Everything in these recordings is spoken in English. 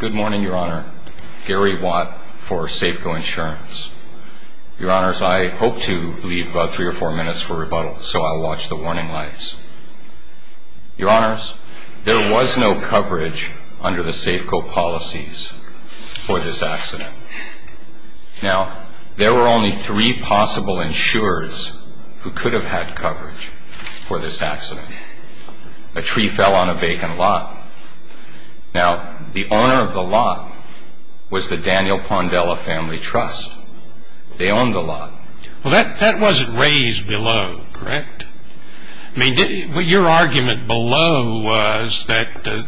Good morning, Your Honor. Gary Watt for Safeco Insurance. Your Honors, I hope to leave about three or four minutes for rebuttal, so I'll watch the warning lights. Your Honors, there was no coverage under the Safeco policies for this accident. Now, there were only three possible insurers who could have had coverage for this accident. A tree fell on a vacant lot. Now, the owner of the lot was the Daniel Pondella Family Trust. They owned the lot. Well, that wasn't raised below, correct? I mean, your argument below was that the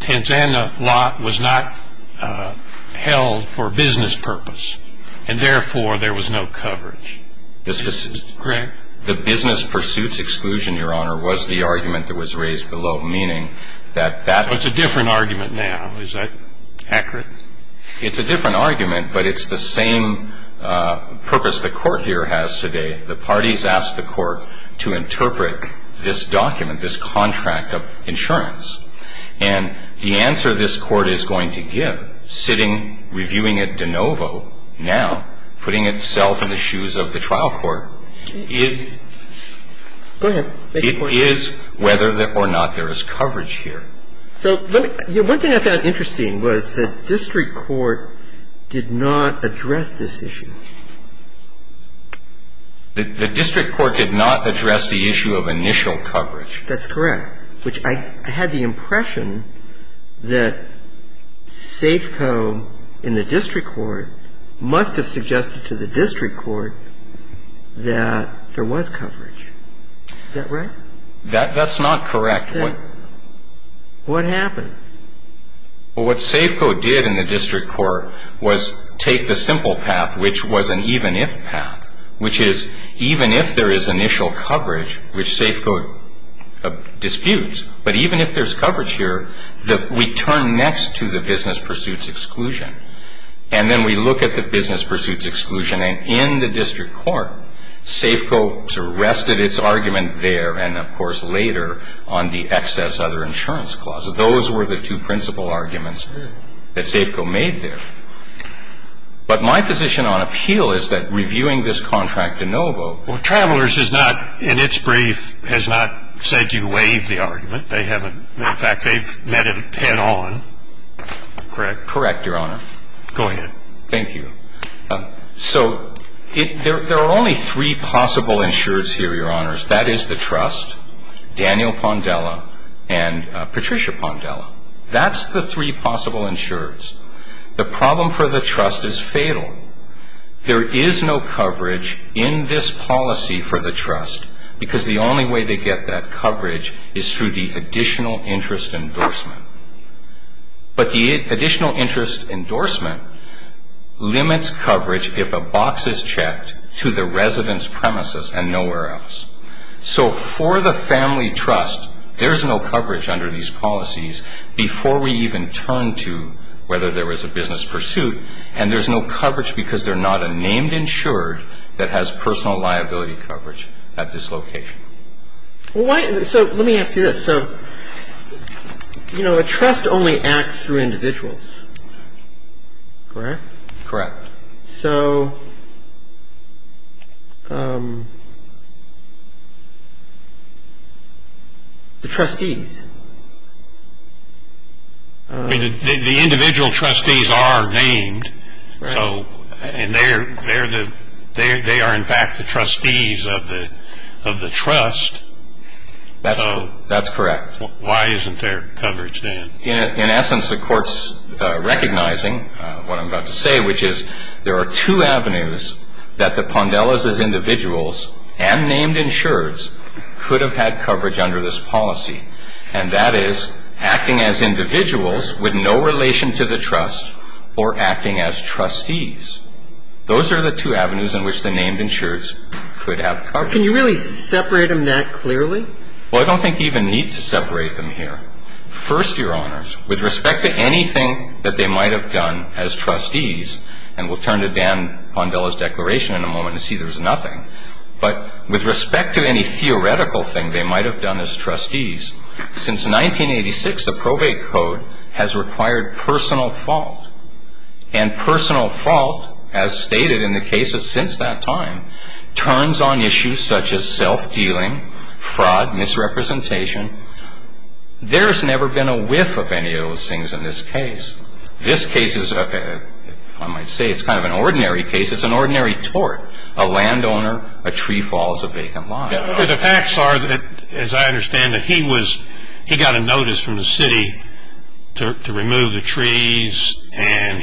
Tanzana lot was not held for business purpose, and therefore there was no coverage. This was the business pursuits exclusion, Your Honor, was the argument that was raised below, meaning that that was a different argument now. Is that accurate? It's a different argument, but it's the same purpose the Court here has today. The parties asked the Court to interpret this document, this contract of insurance. And the answer this Court is going to give, sitting, reviewing at De Novo now, putting itself in the shoes of the trial court, is whether or not there is coverage here. So one thing I found interesting was the district court did not address this issue. The district court did not address the issue of initial coverage. That's correct, which I had the impression that Safeco in the district court must have suggested to the district court that there was coverage. Is that right? That's not correct. What happened? Well, what Safeco did in the district court was take the simple path, which was an even if path, which is even if there is initial coverage, which Safeco disputes, but even if there's coverage here, we turn next to the business pursuits exclusion. And then we look at the business pursuits exclusion. And in the district court, Safeco rested its argument there and, of course, later on the excess other insurance clause. Those were the two principal arguments that Safeco made there. But my position on appeal is that reviewing this contract at De Novo. Well, Travelers is not, in its brief, has not said you waived the argument. They haven't. In fact, they've met it head on. Correct. Correct, Your Honor. Go ahead. Thank you. So there are only three possible insureds here, Your Honors. That is the trust, Daniel Pondella, and Patricia Pondella. That's the three possible insureds. The problem for the trust is fatal. There is no coverage in this policy for the trust because the only way they get that coverage is through the additional interest endorsement limits coverage if a box is checked to the resident's premises and nowhere else. So for the family trust, there's no coverage under these policies before we even turn to whether there was a business pursuit. And there's no coverage because they're not a named insured that has personal liability coverage at this location. Well, so let me ask you this. So, you know, a trust only acts through individuals, correct? Correct. So, the trustees? The individual trustees are named. So, and they are in fact the trustees of the trust. That's correct. Why isn't there coverage, Dan? In essence, the court's recognizing what I'm about to say, which is there are two avenues that the Pondellas as individuals and named insureds could have had coverage under this policy. And that is acting as individuals with no relation to the trust or acting as trustees. Those are the two avenues in which the named insureds could have coverage. Can you really separate them that clearly? Well, I don't think you even need to separate them here. First, Your Honors, with respect to anything that they might have done as trustees, and we'll turn to Dan Pondella's declaration in a moment and see there's nothing. But with respect to any theoretical thing they might have done as trustees, since 1986, the probate code has required personal fault. And personal fault, as stated in the cases since that time, turns on issues such as self-dealing, fraud, misrepresentation. There's never been a whiff of any of those things in this case. This case is, if I might say, it's kind of an ordinary case. It's an ordinary tort. A landowner, a tree falls, a vacant lot. The facts are, as I understand it, he was, he got a notice from the city to trim the trees. And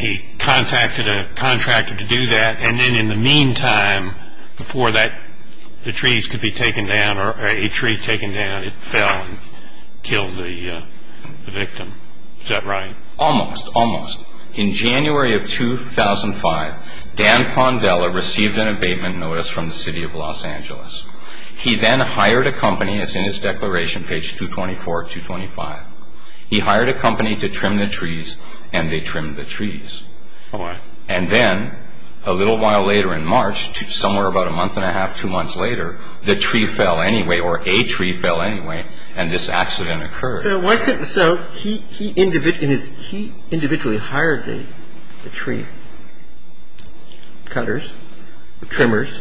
in the meantime, before that, the trees could be taken down, or a tree taken down, it fell and killed the victim. Is that right? Almost. Almost. In January of 2005, Dan Pondella received an abatement notice from the city of Los Angeles. He then hired a company, it's in his declaration, page 224, 225. He hired a company to trim the trees, and they trimmed the trees. And then, a little while later in March, somewhere about a month and a half, two months later, the tree fell anyway, or a tree fell anyway, and this accident occurred. So, he individually hired the tree cutters, the trimmers.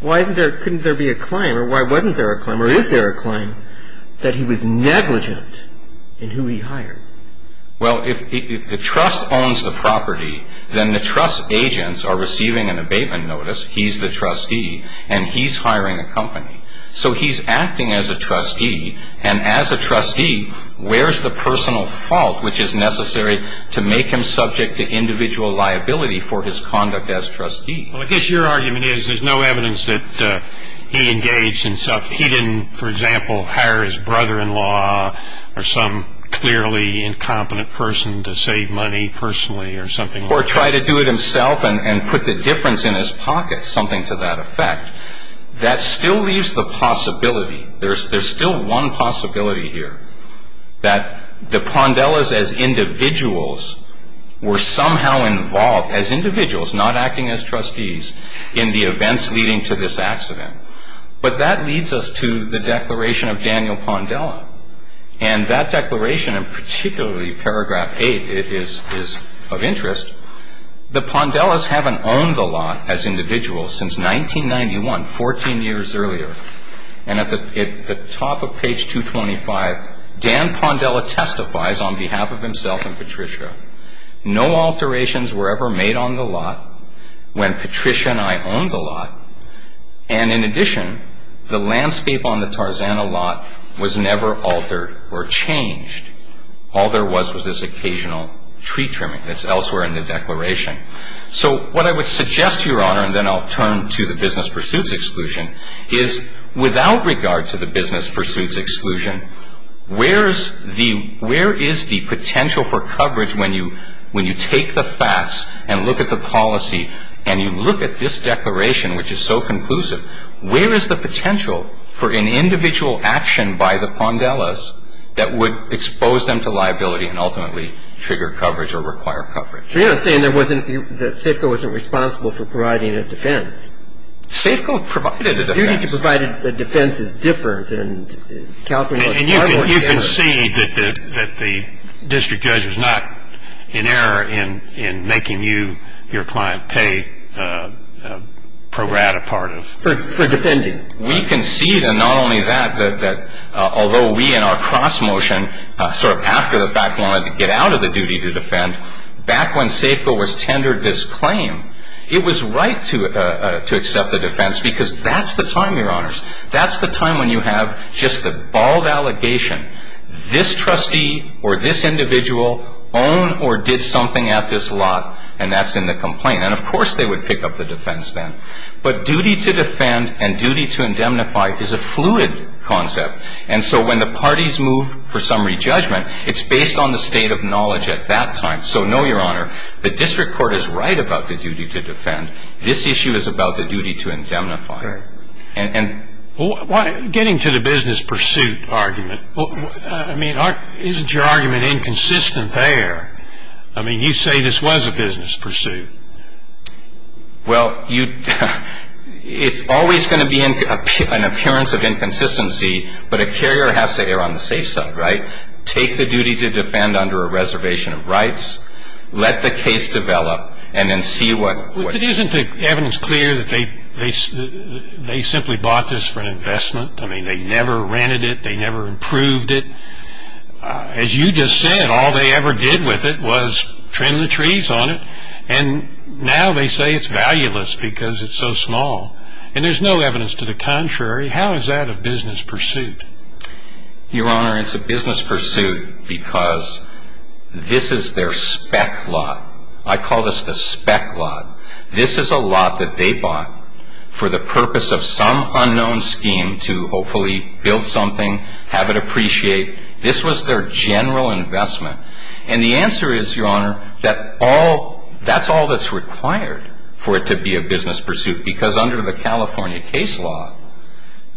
Why isn't there, couldn't there be a claim, or why wasn't there a claim, or is there a claim, that he was negligent in who he hired? Well, if the trust owns the property, then the trust agents are receiving an abatement notice, he's the trustee, and he's hiring a company. So, he's acting as a trustee, and as a trustee, where's the personal fault which is necessary to make him subject to individual liability for his conduct as trustee? Well, I guess your argument is, there's no evidence that he engaged in He didn't, for example, hire his brother-in-law, or some clearly incompetent person to save money personally, or something like that. Or try to do it himself, and put the difference in his pocket, something to that effect. That still leaves the possibility, there's still one possibility here, that the Pondellas, as individuals, were somehow involved, as individuals, not acting as trustees, in the events leading to this accident. But that leads us to the declaration of Daniel Pondella. And that declaration, in particularly paragraph eight, is of interest. The Pondellas haven't owned the lot, as individuals, since 1991, 14 years earlier. And at the top of page 225, Dan Pondella testifies on behalf of himself and Patricia, no alterations were ever made on the lot, when Patricia and I owned the lot. And in addition, the landscape on the Tarzana lot was never altered or changed. All there was, was this occasional tree trimming. That's elsewhere in the declaration. So, what I would suggest, Your Honor, and then I'll turn to the business pursuits exclusion, is, without regard to the business pursuits exclusion, where's the, the potential for coverage when you, when you take the facts and look at the policy, and you look at this declaration, which is so conclusive, where is the potential for an individual action by the Pondellas that would expose them to liability and ultimately trigger coverage or require coverage? But you're not saying there wasn't, that SAFCO wasn't responsible for providing a defense? SAFCO provided a defense. The duty to provide a defense is different than California was. And you can, you can see that the, that the district judge was not in error in, in making you, your client pay pro rata part of... For, for defending. We can see that not only that, that, that although we in our cross motion, sort of after the fact wanted to get out of the duty to defend, back when SAFCO was tendered this claim, it was right to, to accept the defense because that's the time, your honors. That's the time when you have just the bald allegation. This trustee or this individual owned or did something at this lot and that's in the complaint. And of course they would pick up the defense then. But duty to defend and duty to indemnify is a fluid concept. And so when the parties move for summary judgment, it's based on the state of knowledge at that time. So no, your honor, the district court is right about the duty to defend. This issue is about the duty to indemnify. And, and... Well, why, getting to the business pursuit argument, I mean, isn't your argument inconsistent there? I mean, you say this was a business pursuit. Well, you, it's always going to be an appearance of inconsistency, but a carrier has to err on the safe side, right? Take the duty to defend under a reservation of rights, let the case develop, and then see what... Isn't the evidence clear that they, they, they simply bought this for an investment? I mean, they never rented it. They never approved it. As you just said, all they ever did with it was trim the trees on it. And now they say it's valueless because it's so small. And there's no evidence to the contrary. How is that a business pursuit? Your honor, it's a business pursuit because this is their spec lot. I call this the spec lot. This is a lot that they bought for the purpose of some unknown scheme to hopefully build something, have it appreciate. This was their general investment. And the answer is, your honor, that all, that's all that's required for it to be a business pursuit. Because under the California case law,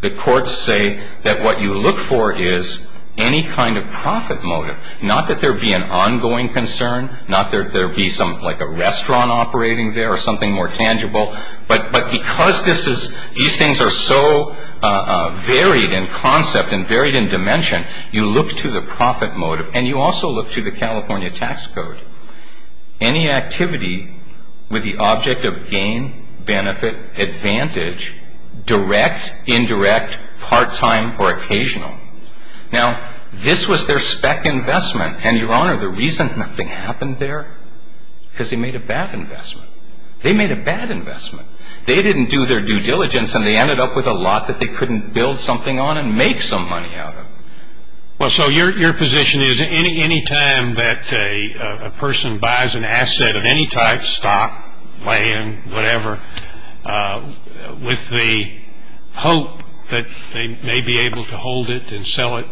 the courts say that what you look for is any kind of profit motive. Not that there be an ongoing concern, not that there be some, like a restaurant operating there or something more tangible. But, but because this is, these things are so varied in concept and varied in dimension, you look to the profit motive. And you also look to the California tax code. Any activity with the object of gain, benefit, advantage, direct, indirect, part time, or occasional. Now, this was their spec investment. And your honor, the reason nothing happened there, because they made a bad investment. They made a bad investment. They didn't do their due diligence, and they ended up with a lot that they couldn't build something on and make some money out of. Well, so your position is, any time that a person buys an asset of any type, stock, land, whatever, with the hope that they may be able to hold it and sell it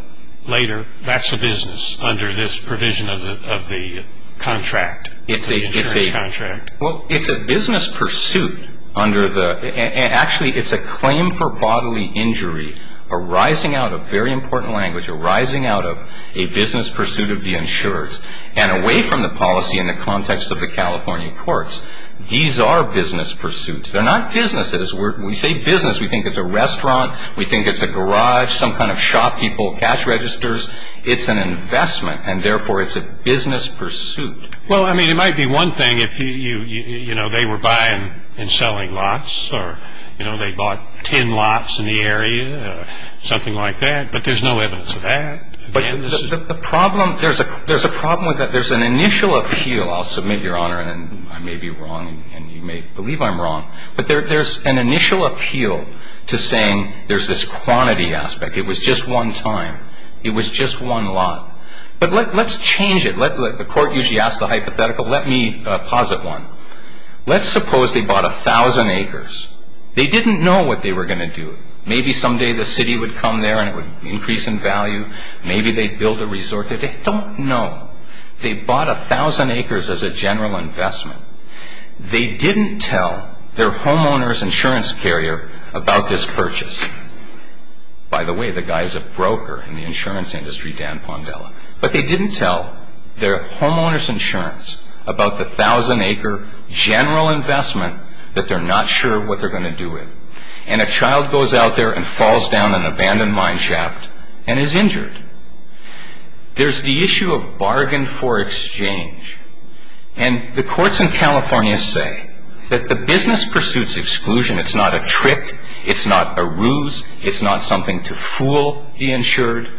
later, that's a business under this provision of the contract, the insurance contract. Well, it's a business pursuit under the, actually it's a claim for bodily injury arising out of, very important language, arising out of a business pursuit of the insurers. And away from the policy in the context of the California courts, these are business pursuits. They're not businesses. We say business, we think it's a restaurant. We think it's a garage, some kind of shop, people, cash registers. It's an investment, and therefore, it's a business pursuit. Well, I mean, it might be one thing if they were buying and selling lots, or they bought ten lots in the area, or something like that. But there's no evidence of that. But the problem, there's a problem with that. There's an initial appeal. I'll submit, your honor, and I may be wrong, and you may believe I'm wrong. But there's an initial appeal to saying there's this quantity aspect. It was just one time. It was just one lot. But let's change it. The court usually asks the hypothetical. Let me posit one. Let's suppose they bought 1,000 acres. They didn't know what they were going to do. Maybe someday the city would come there and it would increase in value. Maybe they'd build a resort. They don't know. They bought 1,000 acres as a general investment. They didn't tell their homeowner's insurance carrier about this purchase. By the way, the guy is a broker in the insurance industry, Dan Pondella. But they didn't tell their homeowner's insurance about the 1,000 acre general investment that they're not sure what they're going to do with. And a child goes out there and falls down an abandoned mineshaft and is injured. There's the issue of bargain for exchange. And the courts in California say that the business pursuits exclusion, it's not a trick, it's not a ruse, it's not something to fool the insured.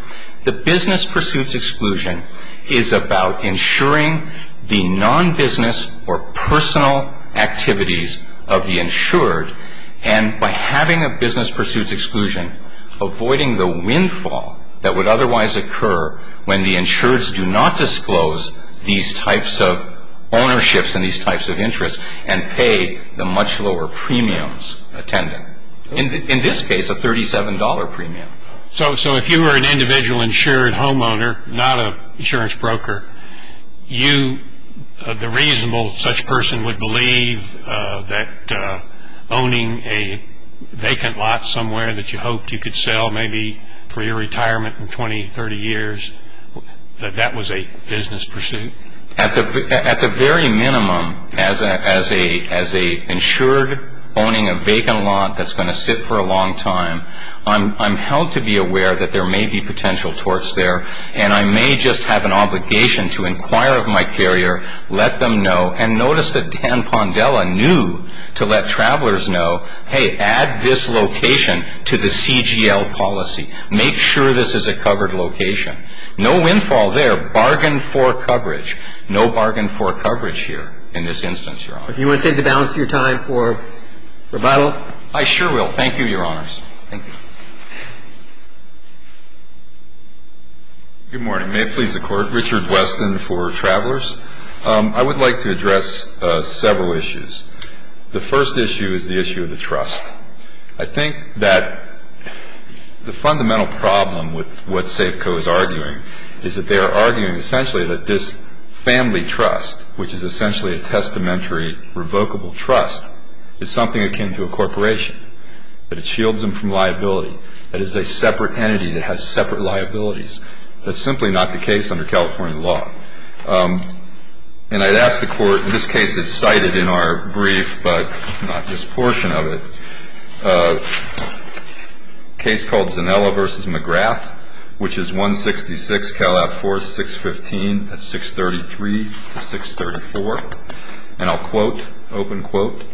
The business pursuits exclusion is about insuring the non-business or personal activities of the insured. And by having a business pursuits exclusion, avoiding the windfall that would otherwise occur when the insureds do not disclose these types of ownerships and these types of interests, and pay the much lower premiums attending. In this case, a $37 premium. So if you were an individual insured homeowner, not an insurance broker, the reasonable such person would believe that owning a vacant lot somewhere that you hoped you could sell maybe for your retirement in 20, 30 years, that that was a business pursuit? At the very minimum, as a insured owning a vacant lot that's going to sit for a long time, I'm held to be aware that there may be potential torts there. And I may just have an obligation to inquire of my carrier, let them know. And notice that Dan Pondella knew to let travelers know, hey, add this location to the CGL policy. Make sure this is a covered location. No windfall there, bargain for coverage. No bargain for coverage here in this instance, Your Honor. If you want to save the balance of your time for rebuttal. I sure will. Thank you, Your Honors. Thank you. Good morning. May it please the Court. Richard Weston for Travelers. I would like to address several issues. The first issue is the issue of the trust. I think that the fundamental problem with what Safeco is arguing, is that they are arguing essentially that this family trust, which is essentially a testamentary revocable trust, is something akin to a corporation. That it shields them from liability. That it's a separate entity that has separate liabilities. That's simply not the case under California law. And I'd ask the Court, and this case is cited in our brief, but not this portion of it. A case called Zanella v. McGrath, which is 166 Calab Four 615 at 633 to 634. And I'll quote, open quote,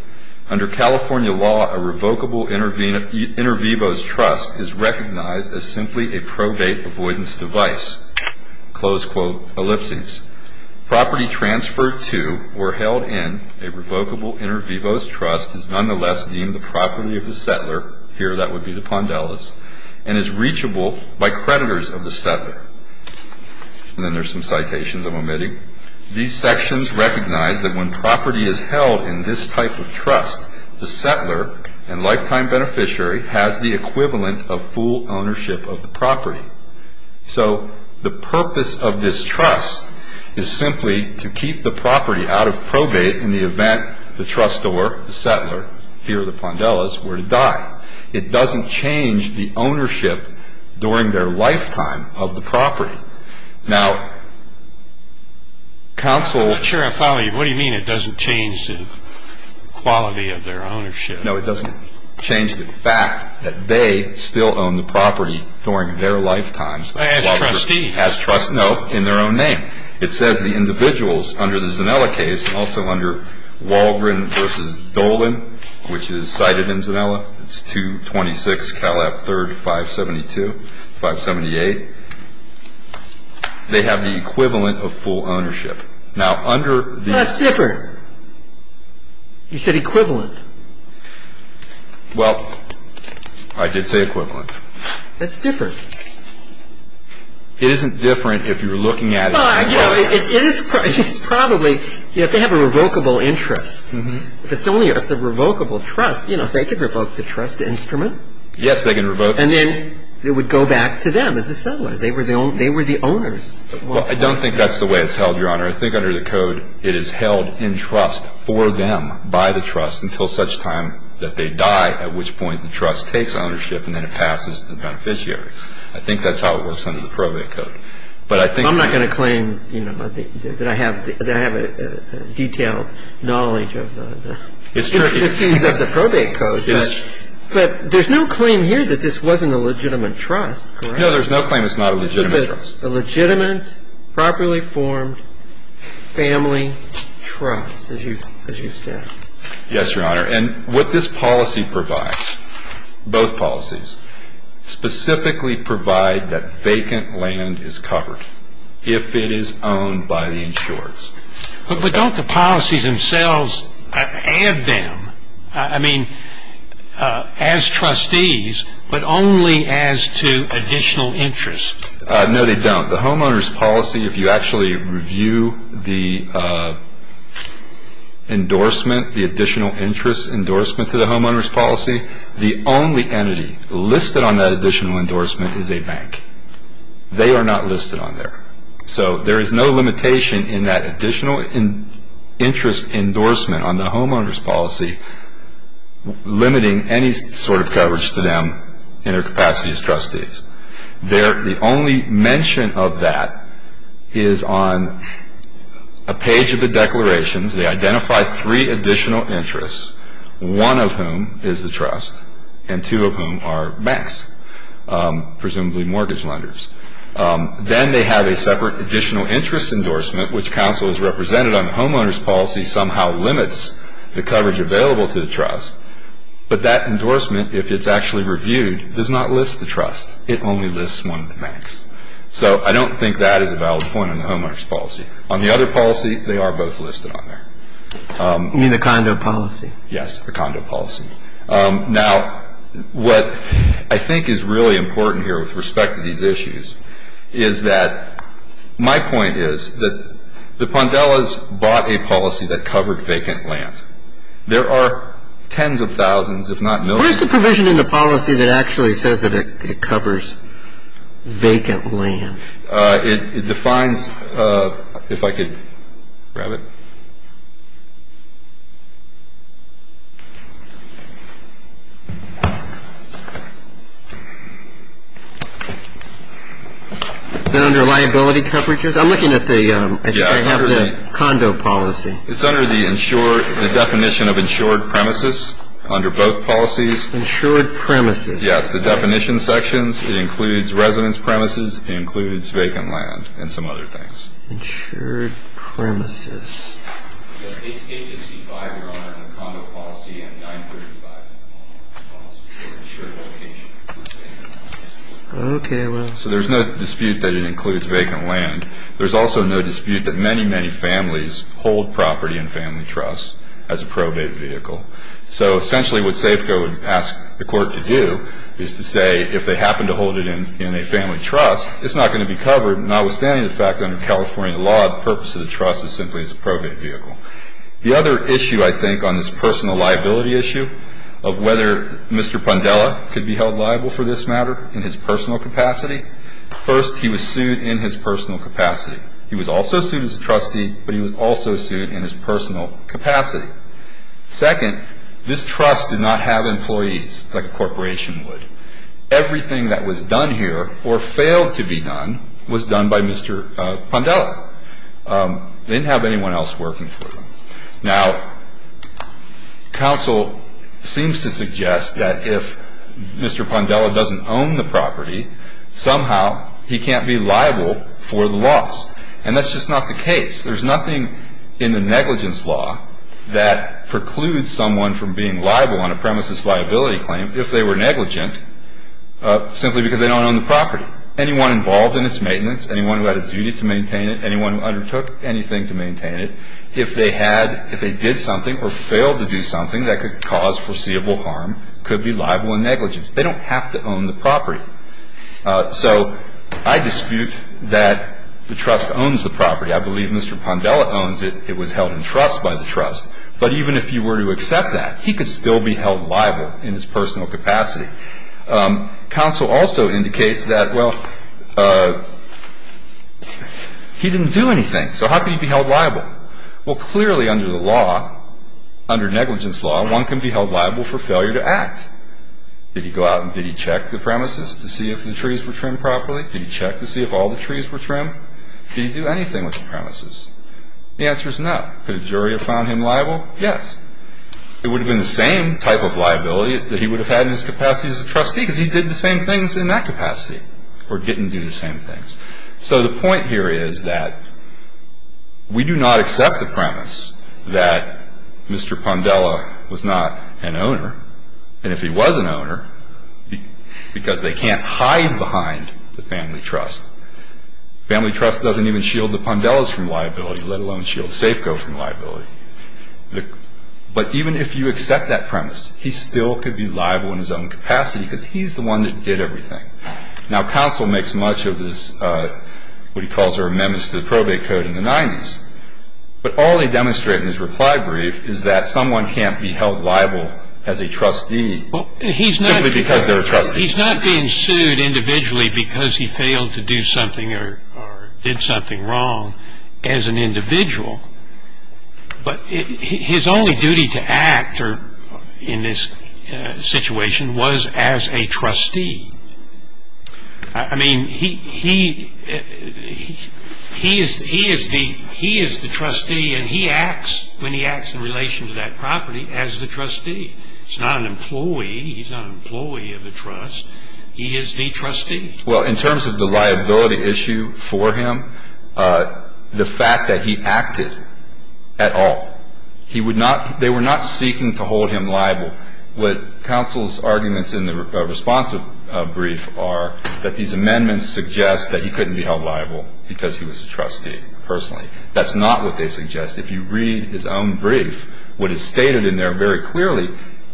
under California law, a revocable inter vivos trust is recognized as simply a probate avoidance device. Close quote, ellipses. Property transferred to or held in a revocable inter vivos trust is nonetheless deemed the property of the settler. Here that would be the Pondellas. And is reachable by creditors of the settler. And then there's some citations I'm omitting. These sections recognize that when property is held in this type of trust, the settler and lifetime beneficiary has the equivalent of full ownership of the property. So the purpose of this trust is simply to keep the property out of probate in the event the trustor, the settler, here the Pondellas, were to die. It doesn't change the ownership during their lifetime of the property. Now, counsel- I'm not sure I follow you. What do you mean it doesn't change the quality of their ownership? No, it doesn't change the fact that they still own the property during their lifetimes- As trustees. As trustees, no, in their own name. It says the individuals under the Zanella case, and also under Walgren versus Dolan, which is cited in Zanella, it's 226 Cal F 3rd 572, 578. They have the equivalent of full ownership. Now, under the- That's different. You said equivalent. Well, I did say equivalent. That's different. It isn't different if you're looking at- Well, you know, it is probably, you have to have a revocable interest. If it's only a revocable trust, you know, they can revoke the trust instrument. Yes, they can revoke- And then it would go back to them as the settlers. They were the owners. Well, I don't think that's the way it's held, Your Honor. I think under the code, it is held in trust for them by the trust until such time that they die, at which point the trust takes ownership and then it passes to the beneficiaries. I think that's how it works under the probate code. But I think- I'm not going to claim, you know, that I have a detailed knowledge of the- It's Turkey. It seems like the probate code, but there's no claim here that this wasn't a legitimate trust, correct? No, there's no claim it's not a legitimate trust. A legitimate, properly formed family trust, as you've said. Yes, Your Honor. And what this policy provides, both policies, specifically provide that vacant land is covered if it is owned by the insurers. But don't the policies themselves add them, I mean, as trustees, but only as to additional interest? No, they don't. The homeowner's policy, if you actually review the endorsement, the additional interest endorsement to the homeowner's policy, the only entity listed on that additional endorsement is a bank. They are not listed on there. So there is no limitation in that additional interest endorsement on the homeowner's policy, limiting any sort of coverage to them in their capacity as trustees. The only mention of that is on a page of the declarations. They identify three additional interests, one of whom is the trust, and two of whom are banks, presumably mortgage lenders. Then they have a separate additional interest endorsement, which counsels represented on the homeowner's policy somehow limits the coverage available to the trust. But that endorsement, if it's actually reviewed, does not list the trust. It only lists one of the banks. So I don't think that is a valid point on the homeowner's policy. On the other policy, they are both listed on there. You mean the condo policy? Yes, the condo policy. Now, what I think is really important here with respect to these issues is that my point is that the Pondellas bought a policy that covered vacant land. There are tens of thousands, if not millions. Where's the provision in the policy that actually says that it covers vacant land? It defines, if I could grab it. Is it under liability coverages? I'm looking at the, I think I have the condo policy. It's under the insured, the definition of insured premises under both policies. Insured premises. Yes, the definition sections. It includes residence premises. It includes vacant land and some other things. Insured premises. The A-65, Your Honor, and the condo policy and the 935 policy, the insured location includes vacant land. Okay, well. So there's no dispute that it includes vacant land. There's also no dispute that many, many families hold property in family trusts as a probate vehicle. So essentially what SAFCO would ask the court to do is to say if they happen to hold it in a family trust, it's not going to be covered. Notwithstanding the fact that under California law, the purpose of the trust is simply as a probate vehicle. The other issue, I think, on this personal liability issue of whether Mr. Pondella could be held liable for this matter in his personal capacity. First, he was sued in his personal capacity. He was also sued as a trustee, but he was also sued in his personal capacity. Second, this trust did not have employees like a corporation would. Everything that was done here, or failed to be done, was done by Mr. Pondella. They didn't have anyone else working for them. Now, counsel seems to suggest that if Mr. Pondella doesn't own the property, somehow he can't be liable for the loss, and that's just not the case. There's nothing in the negligence law that precludes someone from being liable on a premises liability claim if they were negligent simply because they don't own the property. Anyone involved in its maintenance, anyone who had a duty to maintain it, anyone who undertook anything to maintain it, if they did something or failed to do something that could cause foreseeable harm, could be liable in negligence. They don't have to own the property. So I dispute that the trust owns the property. I believe Mr. Pondella owns it. It was held in trust by the trust. But even if you were to accept that, he could still be held liable in his personal capacity. Counsel also indicates that, well, he didn't do anything, so how could he be held liable? Well, clearly under the law, under negligence law, one can be held liable for failure to act. Did he go out and did he check the premises to see if the trees were trimmed properly? Did he check to see if all the trees were trimmed? Did he do anything with the premises? The answer is no. Could a jury have found him liable? Yes. It would have been the same type of liability that he would have had in his capacity as a trustee because he did the same things in that capacity or didn't do the same things. So the point here is that we do not accept the premise that Mr. Pondella was not an owner. And if he was an owner, because they can't hide behind the family trust. Family trust doesn't even shield the Pondellas from liability, let alone shield Safeco from liability. But even if you accept that premise, he still could be liable in his own capacity because he's the one that did everything. Now, counsel makes much of his, what he calls, amendments to the probate code in the 90s. But all they demonstrate in his reply brief is that someone can't be held liable as a trustee simply because they're a trustee. He's not being sued individually because he failed to do something or did something wrong as an individual. But his only duty to act in this situation was as a trustee. I mean, he is the trustee and he acts when he acts in relation to that property as the trustee. He's not an employee, he's not an employee of the trust, he is the trustee. Well, in terms of the liability issue for him, the fact that he acted at all, they were not seeking to hold him liable. What counsel's arguments in the response brief are that these amendments suggest that he couldn't be held liable because he was a trustee, personally. That's not what they suggest. If you read his own brief, what is stated in there very clearly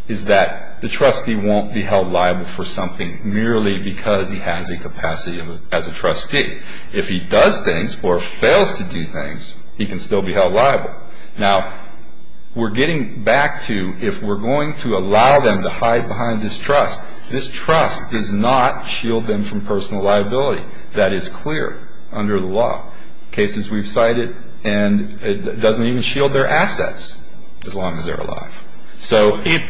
is that the trustee won't be held liable for something merely because he has a capacity as a trustee. If he does things or fails to do things, he can still be held liable. Now, we're getting back to if we're going to allow them to hide behind this trust, this trust does not shield them from personal liability. That is clear under the law. Cases we've cited, and it doesn't even shield their assets as long as they're alive.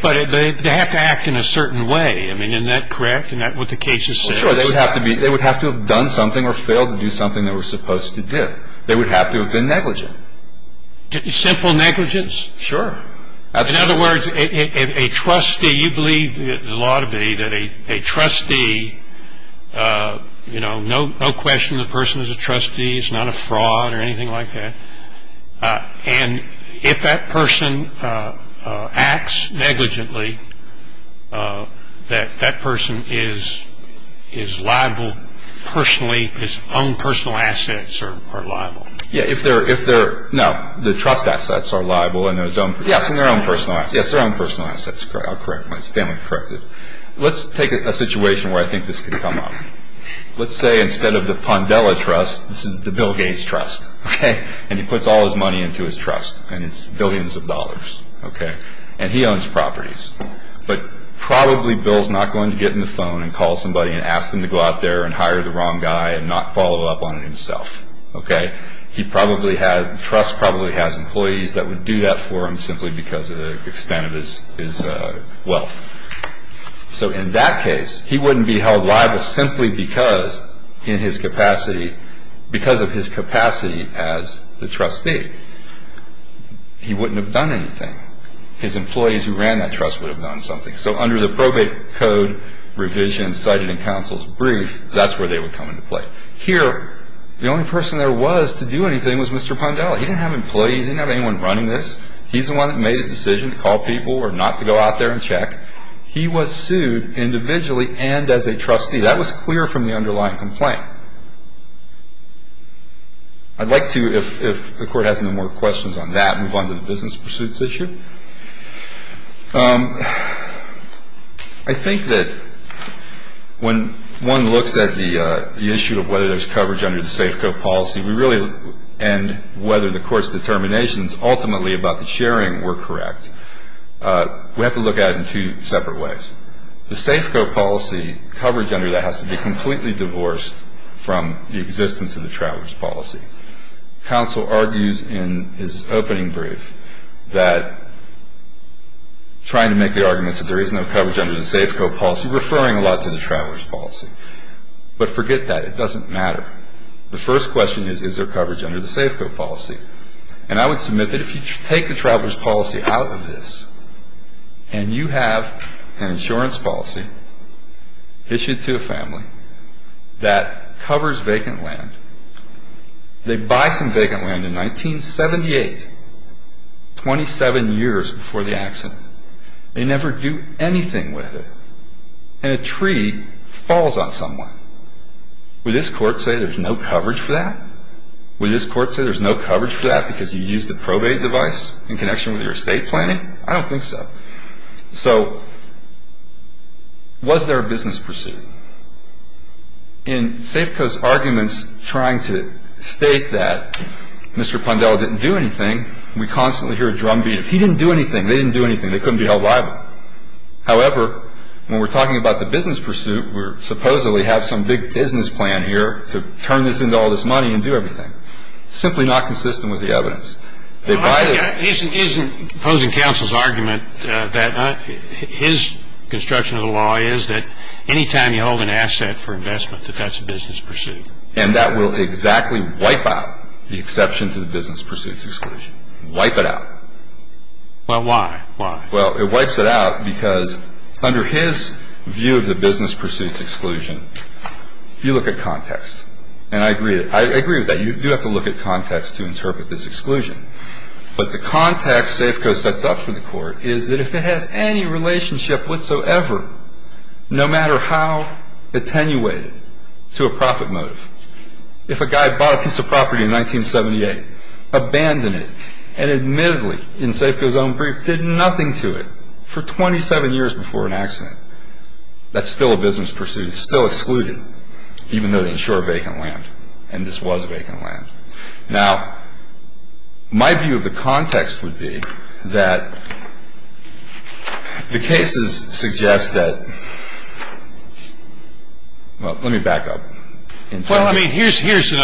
But they have to act in a certain way. I mean, isn't that correct? Isn't that what the cases say? Sure, they would have to have done something or failed to do something they were supposed to do. They would have to have been negligent. Simple negligence? Sure. In other words, a trustee, you believe the law to be that a trustee, you know, no question the person is a trustee. He's not a fraud or anything like that. And if that person acts negligently, that that person is liable personally, his own personal assets are liable. Yeah, if they're, if they're, no, the trust assets are liable. Yes, and their own personal assets. Yes, their own personal assets. I'll correct myself. Stanley, correct it. Let's take a situation where I think this could come up. Let's say instead of the Pondella Trust, this is the Bill Gates Trust. Okay? And he puts all his money into his trust, and it's billions of dollars. Okay? And he owns properties. But probably Bill's not going to get on the phone and call somebody and ask them to go out there and hire the wrong guy and not follow up on it himself. Okay? He probably had, the trust probably has employees that would do that for him simply because of the extent of his wealth. So in that case, he wouldn't be held liable simply because in his capacity, because of his capacity as the trustee. He wouldn't have done anything. His employees who ran that trust would have done something. So under the probate code revision cited in counsel's brief, that's where they would come into play. But here, the only person there was to do anything was Mr. Pondella. He didn't have employees. He didn't have anyone running this. He's the one that made a decision to call people or not to go out there and check. He was sued individually and as a trustee. That was clear from the underlying complaint. I'd like to, if the Court has no more questions on that, move on to the business pursuits issue. I think that when one looks at the issue of whether there's coverage under the Safeco policy, we really, and whether the Court's determinations ultimately about the sharing were correct, we have to look at it in two separate ways. The Safeco policy coverage under that has to be completely divorced from the existence of the Travers policy. Counsel argues in his opening brief that trying to make the arguments that there is no coverage under the Safeco policy, referring a lot to the Travers policy, but forget that. It doesn't matter. The first question is, is there coverage under the Safeco policy? And I would submit that if you take the Travers policy out of this and you have an insurance policy issued to a family that covers vacant land, they buy some vacant land in 1978, 27 years before the accident. They never do anything with it. And a tree falls on someone. Would this Court say there's no coverage for that? Would this Court say there's no coverage for that because you used a probate device in connection with your estate planning? I don't think so. So was there a business pursuit? In Safeco's arguments trying to state that Mr. Pondell didn't do anything, we constantly hear a drumbeat, if he didn't do anything, they didn't do anything. They couldn't be held liable. However, when we're talking about the business pursuit, we supposedly have some big business plan here to turn this into all this money and do everything. Simply not consistent with the evidence. Isn't opposing counsel's argument that his construction of the law is that any time you hold an asset for investment that that's a business pursuit? And that will exactly wipe out the exception to the business pursuits exclusion. Wipe it out. Well, why? Why? Well, it wipes it out because under his view of the business pursuits exclusion, you look at context. And I agree with that. You do have to look at context to interpret this exclusion. But the context Safeco sets up for the court is that if it has any relationship whatsoever, no matter how attenuated to a profit motive, if a guy bought a piece of property in 1978, abandoned it, and admittedly, in Safeco's own brief, did nothing to it for 27 years before an accident, that's still a business pursuit. It's still excluded, even though they insure vacant land. And this was vacant land. Now, my view of the context would be that the cases suggest that, well, let me back up. Well, I mean, here's an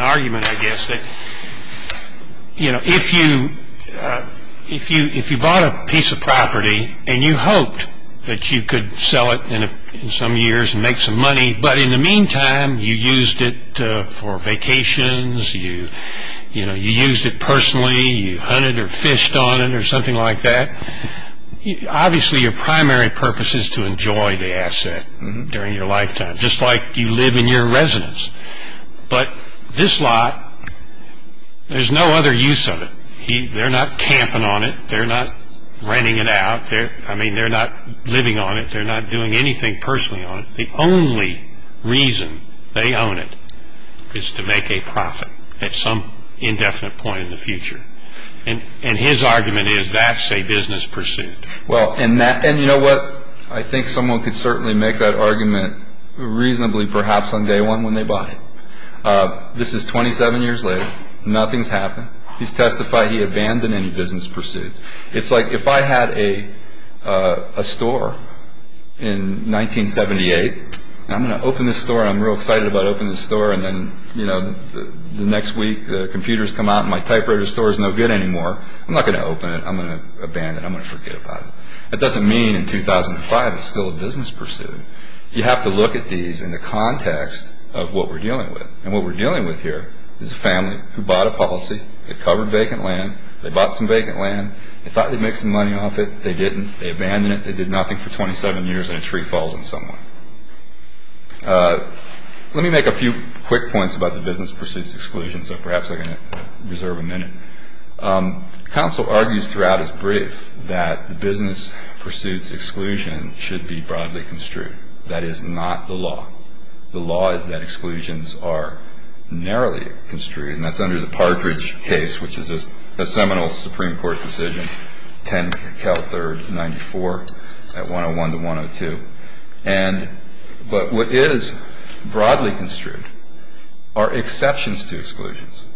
argument, I guess, that if you bought a piece of property and you hoped that you could sell it in some years and make some money, but in the meantime, you used it for vacations, you used it personally, you hunted or fished on it or something like that, obviously, your primary purpose is to enjoy the asset during your lifetime, just like you live in your residence. But this lot, there's no other use of it. They're not camping on it. They're not renting it out. I mean, they're not living on it. They're not doing anything personally on it. The only reason they own it is to make a profit at some indefinite point in the future. And his argument is that's a business pursuit. Well, and you know what? I think someone could certainly make that argument reasonably perhaps on day one when they buy it. This is 27 years later. Nothing's happened. He's testified he abandoned any business pursuits. It's like if I had a store in 1978 and I'm going to open this store and I'm real excited about opening the store and then, you know, the next week the computers come out and my typewriter store is no good anymore, I'm not going to open it. I'm going to abandon it. I'm going to forget about it. That doesn't mean in 2005 it's still a business pursuit. You have to look at these in the context of what we're dealing with. And what we're dealing with here is a family who bought a policy. It covered vacant land. They bought some vacant land. They thought they'd make some money off it. They didn't. They abandoned it. They did nothing for 27 years and a tree falls on someone. so perhaps I can reserve a minute. Counsel argues throughout his brief that the business pursuits exclusion should be broadly construed. That is not the law. The law is that exclusions are narrowly construed, and that's under the Partridge case, which is a seminal Supreme Court decision, 10 Cal 3rd 94, 101 to 102. But what is broadly construed are exceptions to exclusions,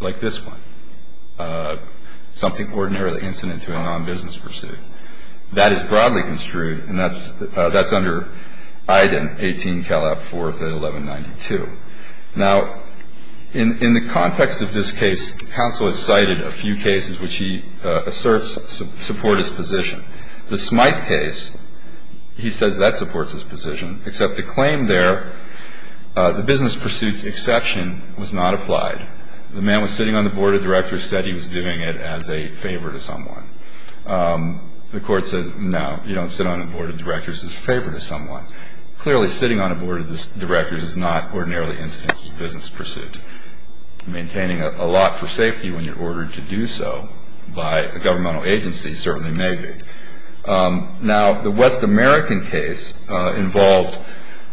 like this one, something ordinarily incident to a non-business pursuit. That is broadly construed, and that's under Iden, 18 Cal 4th, 1192. Now, in the context of this case, counsel has cited a few cases which he asserts support his position. The Smythe case, he says that supports his position, except the claim there the business pursuits exception was not applied. The man was sitting on the board of directors, said he was doing it as a favor to someone. The court said, no, you don't sit on a board of directors as a favor to someone. Clearly, sitting on a board of directors is not ordinarily incident to a business pursuit. Maintaining a lot for safety when you're ordered to do so by a governmental agency certainly may be. Now, the West American case involved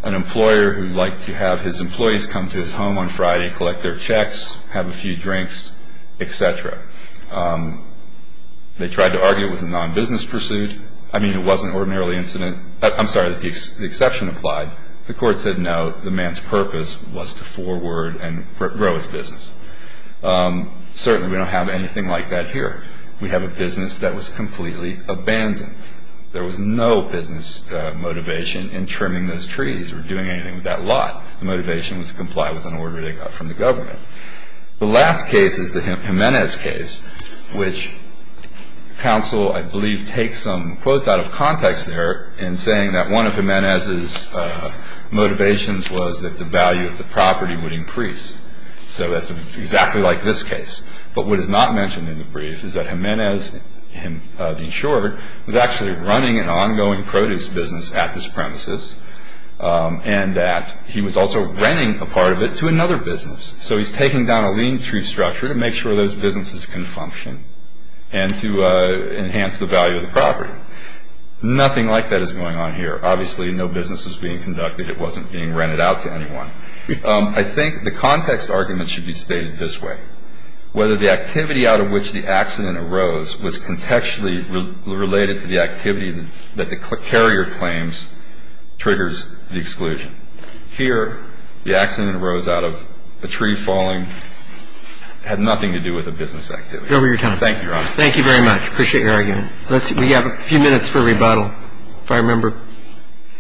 an employer who liked to have his employees come to his home on Friday, collect their checks, have a few drinks, et cetera. They tried to argue it was a non-business pursuit. I mean, it wasn't ordinarily incident. I'm sorry, the exception applied. The court said, no, the man's purpose was to forward and grow his business. Certainly, we don't have anything like that here. We have a business that was completely abandoned. There was no business motivation in trimming those trees or doing anything with that lot. The motivation was to comply with an order they got from the government. The last case is the Jimenez case, which counsel, I believe, did take some quotes out of context there in saying that one of Jimenez's motivations was that the value of the property would increase. So that's exactly like this case. But what is not mentioned in the brief is that Jimenez, the insurer, was actually running an ongoing produce business at this premises and that he was also renting a part of it to another business. So he's taking down a lean tree structure to make sure those businesses can function and to enhance the value of the property. Nothing like that is going on here. Obviously, no business was being conducted. It wasn't being rented out to anyone. I think the context argument should be stated this way. Whether the activity out of which the accident arose was contextually related to the activity that the carrier claims triggers the exclusion. Here, the accident arose out of a tree falling. It had nothing to do with a business activity. Thank you, Your Honor. Thank you very much. Appreciate your argument. We have a few minutes for rebuttal, if I remember.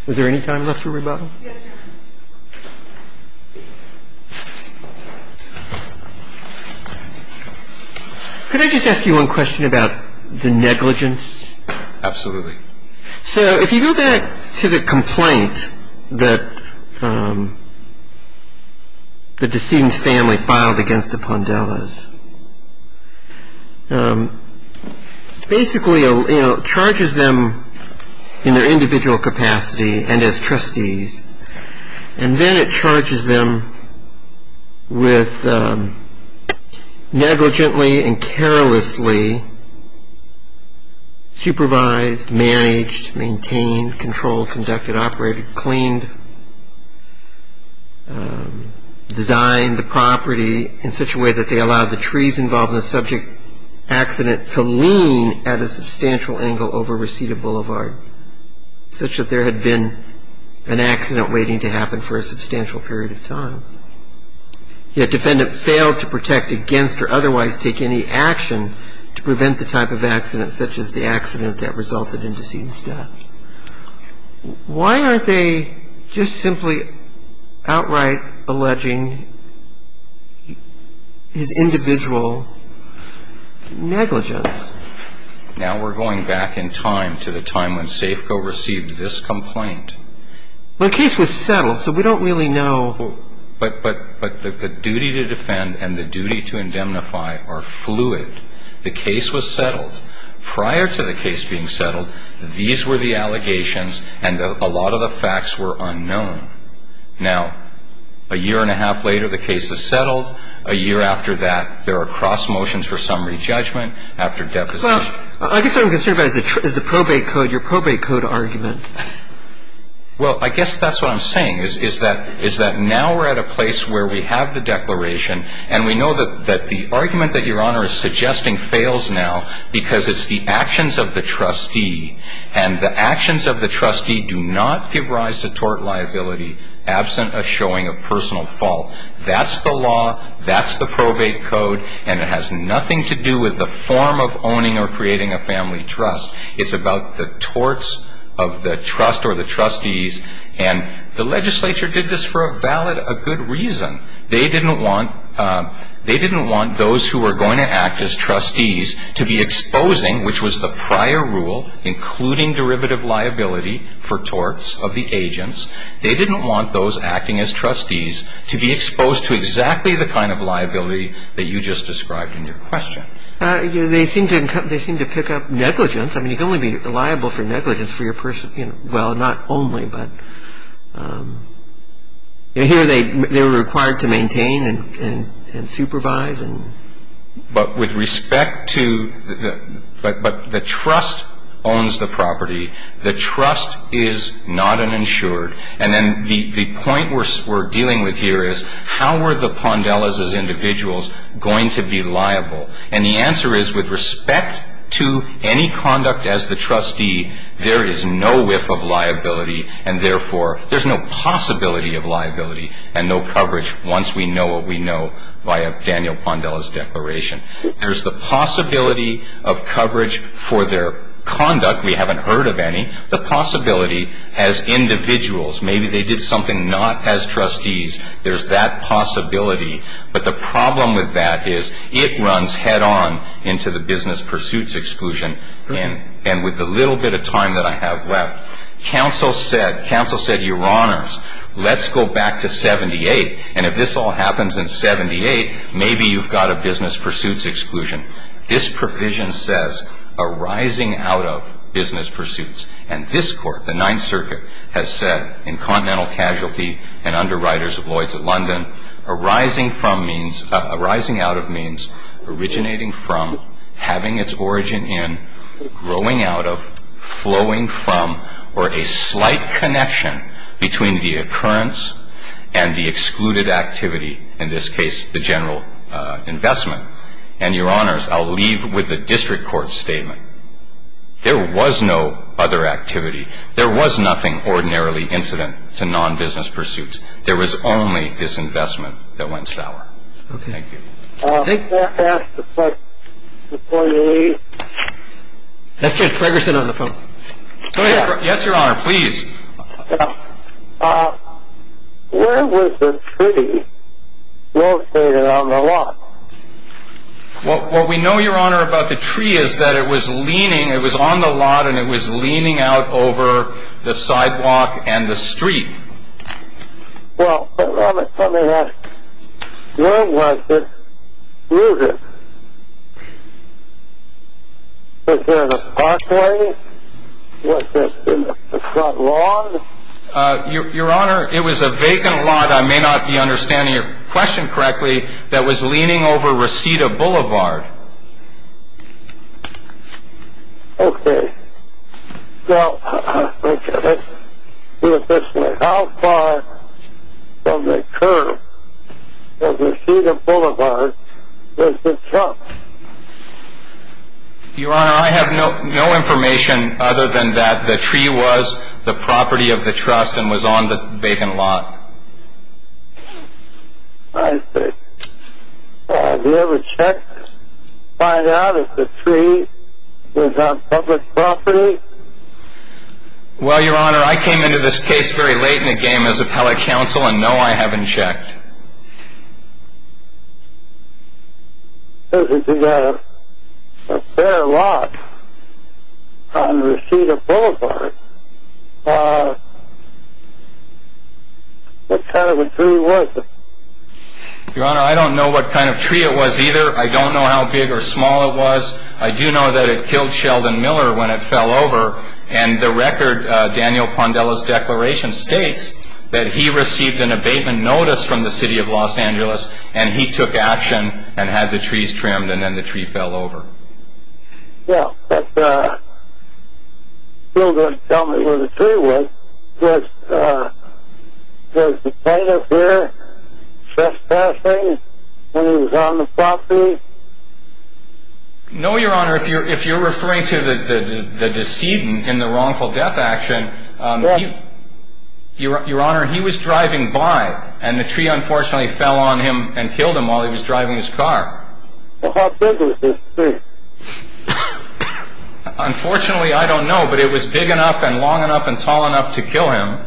Is there any time left for rebuttal? Yes, Your Honor. Could I just ask you one question about the negligence? Absolutely. So if you go back to the complaint that the decedent's family filed against the Pondellas, basically it charges them in their individual capacity and as trustees, and then it charges them with negligently and carelessly supervised, managed, maintained, controlled, conducted, operated, cleaned, designed the property in such a way that they allowed the trees involved in the subject accident to lean at a substantial angle over Reseda Boulevard, such that there had been an accident waiting to happen for a substantial period of time. Yet defendant failed to protect against or otherwise take any action to prevent the type of accident such as the accident that resulted in decedent's death. Why aren't they just simply outright alleging his individual negligence? Well, the case was settled. Now we're going back in time to the time when Safeco received this complaint. Well, the case was settled, so we don't really know. But the duty to defend and the duty to indemnify are fluid. The case was settled. Prior to the case being settled, these were the allegations, and a lot of the facts were unknown. Well, the case was settled. A year after that, there are cross motions for summary judgment after deposition. Well, I guess what I'm concerned about is the probate code, your probate code argument. Well, I guess that's what I'm saying, is that now we're at a place where we have the declaration and we know that the argument that your Honor is suggesting fails now because it's the actions of the trustee. And the actions of the trustee do not give rise to tort liability absent a showing of personal fault. That's the law. That's the probate code. And it has nothing to do with the form of owning or creating a family trust. It's about the torts of the trust or the trustees. And the legislature did this for a valid, a good reason. They didn't want those who were going to act as trustees to be exposing, which was the prior rule, including derivative liability for torts of the agents. They didn't want those acting as trustees to be exposed to exactly the kind of liability that you just described in your question. They seem to pick up negligence. I mean, you can only be liable for negligence for your person. Well, not only, but here they're required to maintain and supervise. But with respect to the trust owns the property. The trust is not uninsured. And then the point we're dealing with here is how are the Pondellas as individuals going to be liable? And the answer is with respect to any conduct as the trustee, there is no whiff of liability, and therefore there's no possibility of liability and no coverage once we know what we know via Daniel Pondella's declaration. There's the possibility of coverage for their conduct. We haven't heard of any. The possibility as individuals, maybe they did something not as trustees, there's that possibility. But the problem with that is it runs head on into the business pursuits exclusion. And with the little bit of time that I have left, counsel said, your honors, let's go back to 78, and if this all happens in 78, maybe you've got a business pursuits exclusion. This provision says arising out of business pursuits. And this Court, the Ninth Circuit, has said in Continental Casualty and Underwriters of Lloyd's of London, arising from means, arising out of means, originating from, having its origin in, growing out of, flowing from, or a slight connection between the occurrence and the excluded activity, in this case the general investment. And, your honors, I'll leave with the district court statement. There was no other activity. There was nothing ordinarily incident to non-business pursuits. There was only this investment that went sour. Thank you. Can I ask a question before you leave? Let's get Fregerson on the phone. Go ahead. Yes, your honor, please. Where was the tree located on the lot? What we know, your honor, about the tree is that it was leaning, it was on the lot, and it was leaning out over the sidewalk and the street. Well, let me ask, where was it located? Was there a parkway? Was there a front lawn? Your honor, it was a vacant lot, I may not be understanding your question correctly, that was leaning over Reseda Boulevard. Okay. Well, how far from the curb of Reseda Boulevard was the truck? Your honor, I have no information other than that the tree was the property of the trust and was on the vacant lot. I see. Have you ever checked to find out if the tree was on public property? Well, your honor, I came into this case very late in the game as appellate counsel, and no, I haven't checked. Your honor, I don't know what kind of tree it was either. I don't know how big or small it was. I do know that it killed Sheldon Miller when it fell over, and the record, Daniel Pondella's declaration, states that he received an abatement notice from the State Department that said the tree was on public property. And he took action and had the trees trimmed, and then the tree fell over. Yeah, but he wasn't going to tell me where the tree was. Was the plaintiff there trespassing when he was on the property? No, your honor, if you're referring to the decedent in the wrongful death action, your honor, he was driving by, and the tree unfortunately fell on him and killed him while he was driving his car. Well, how big was this tree? Unfortunately, I don't know, but it was big enough and long enough and tall enough to kill him.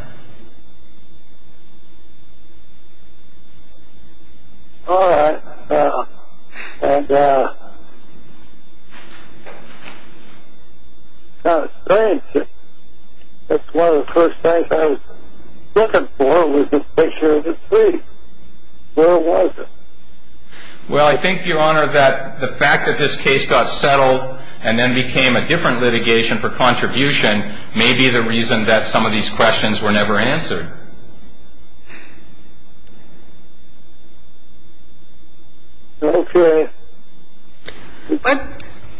All right. And it's strange. It's one of the first things I was looking for was this picture of the tree. Where was it? Well, I think, your honor, that the fact that this case got settled and then became a different litigation for contribution may be the reason that some of these questions were never answered. Okay.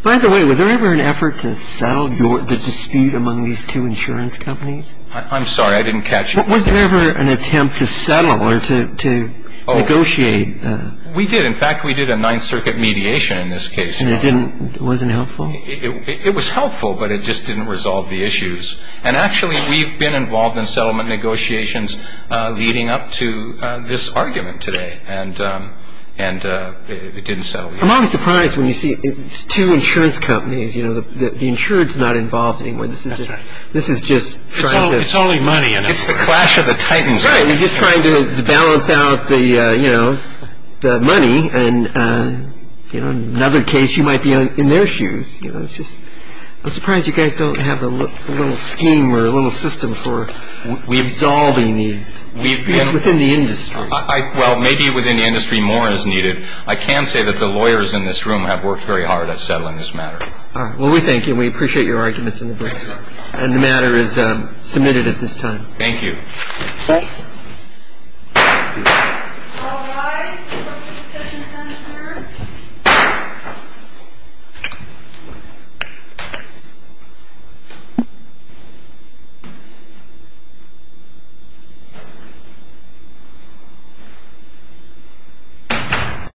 By the way, was there ever an effort to settle the dispute among these two insurance companies? I'm sorry. I didn't catch you there. Was there ever an attempt to settle or to negotiate? We did. In fact, we did a Ninth Circuit mediation in this case. And it wasn't helpful? It was helpful, but it just didn't resolve the issues. And actually, we've been involved in settlement negotiations leading up to this argument today. And it didn't settle. I'm always surprised when you see two insurance companies. The insurer is not involved in any way. That's right. This is just trying to – It's only money. It's the clash of the titans. Right. You're just trying to balance out the money. And, you know, in another case, you might be in their shoes. You know, it's just – I'm surprised you guys don't have a little scheme or a little system for resolving these disputes within the industry. Well, maybe within the industry more is needed. I can say that the lawyers in this room have worked very hard at settling this matter. All right. Well, we thank you, and we appreciate your arguments in the books. And the matter is submitted at this time. Thank you. Thank you. All rise for the discussion center.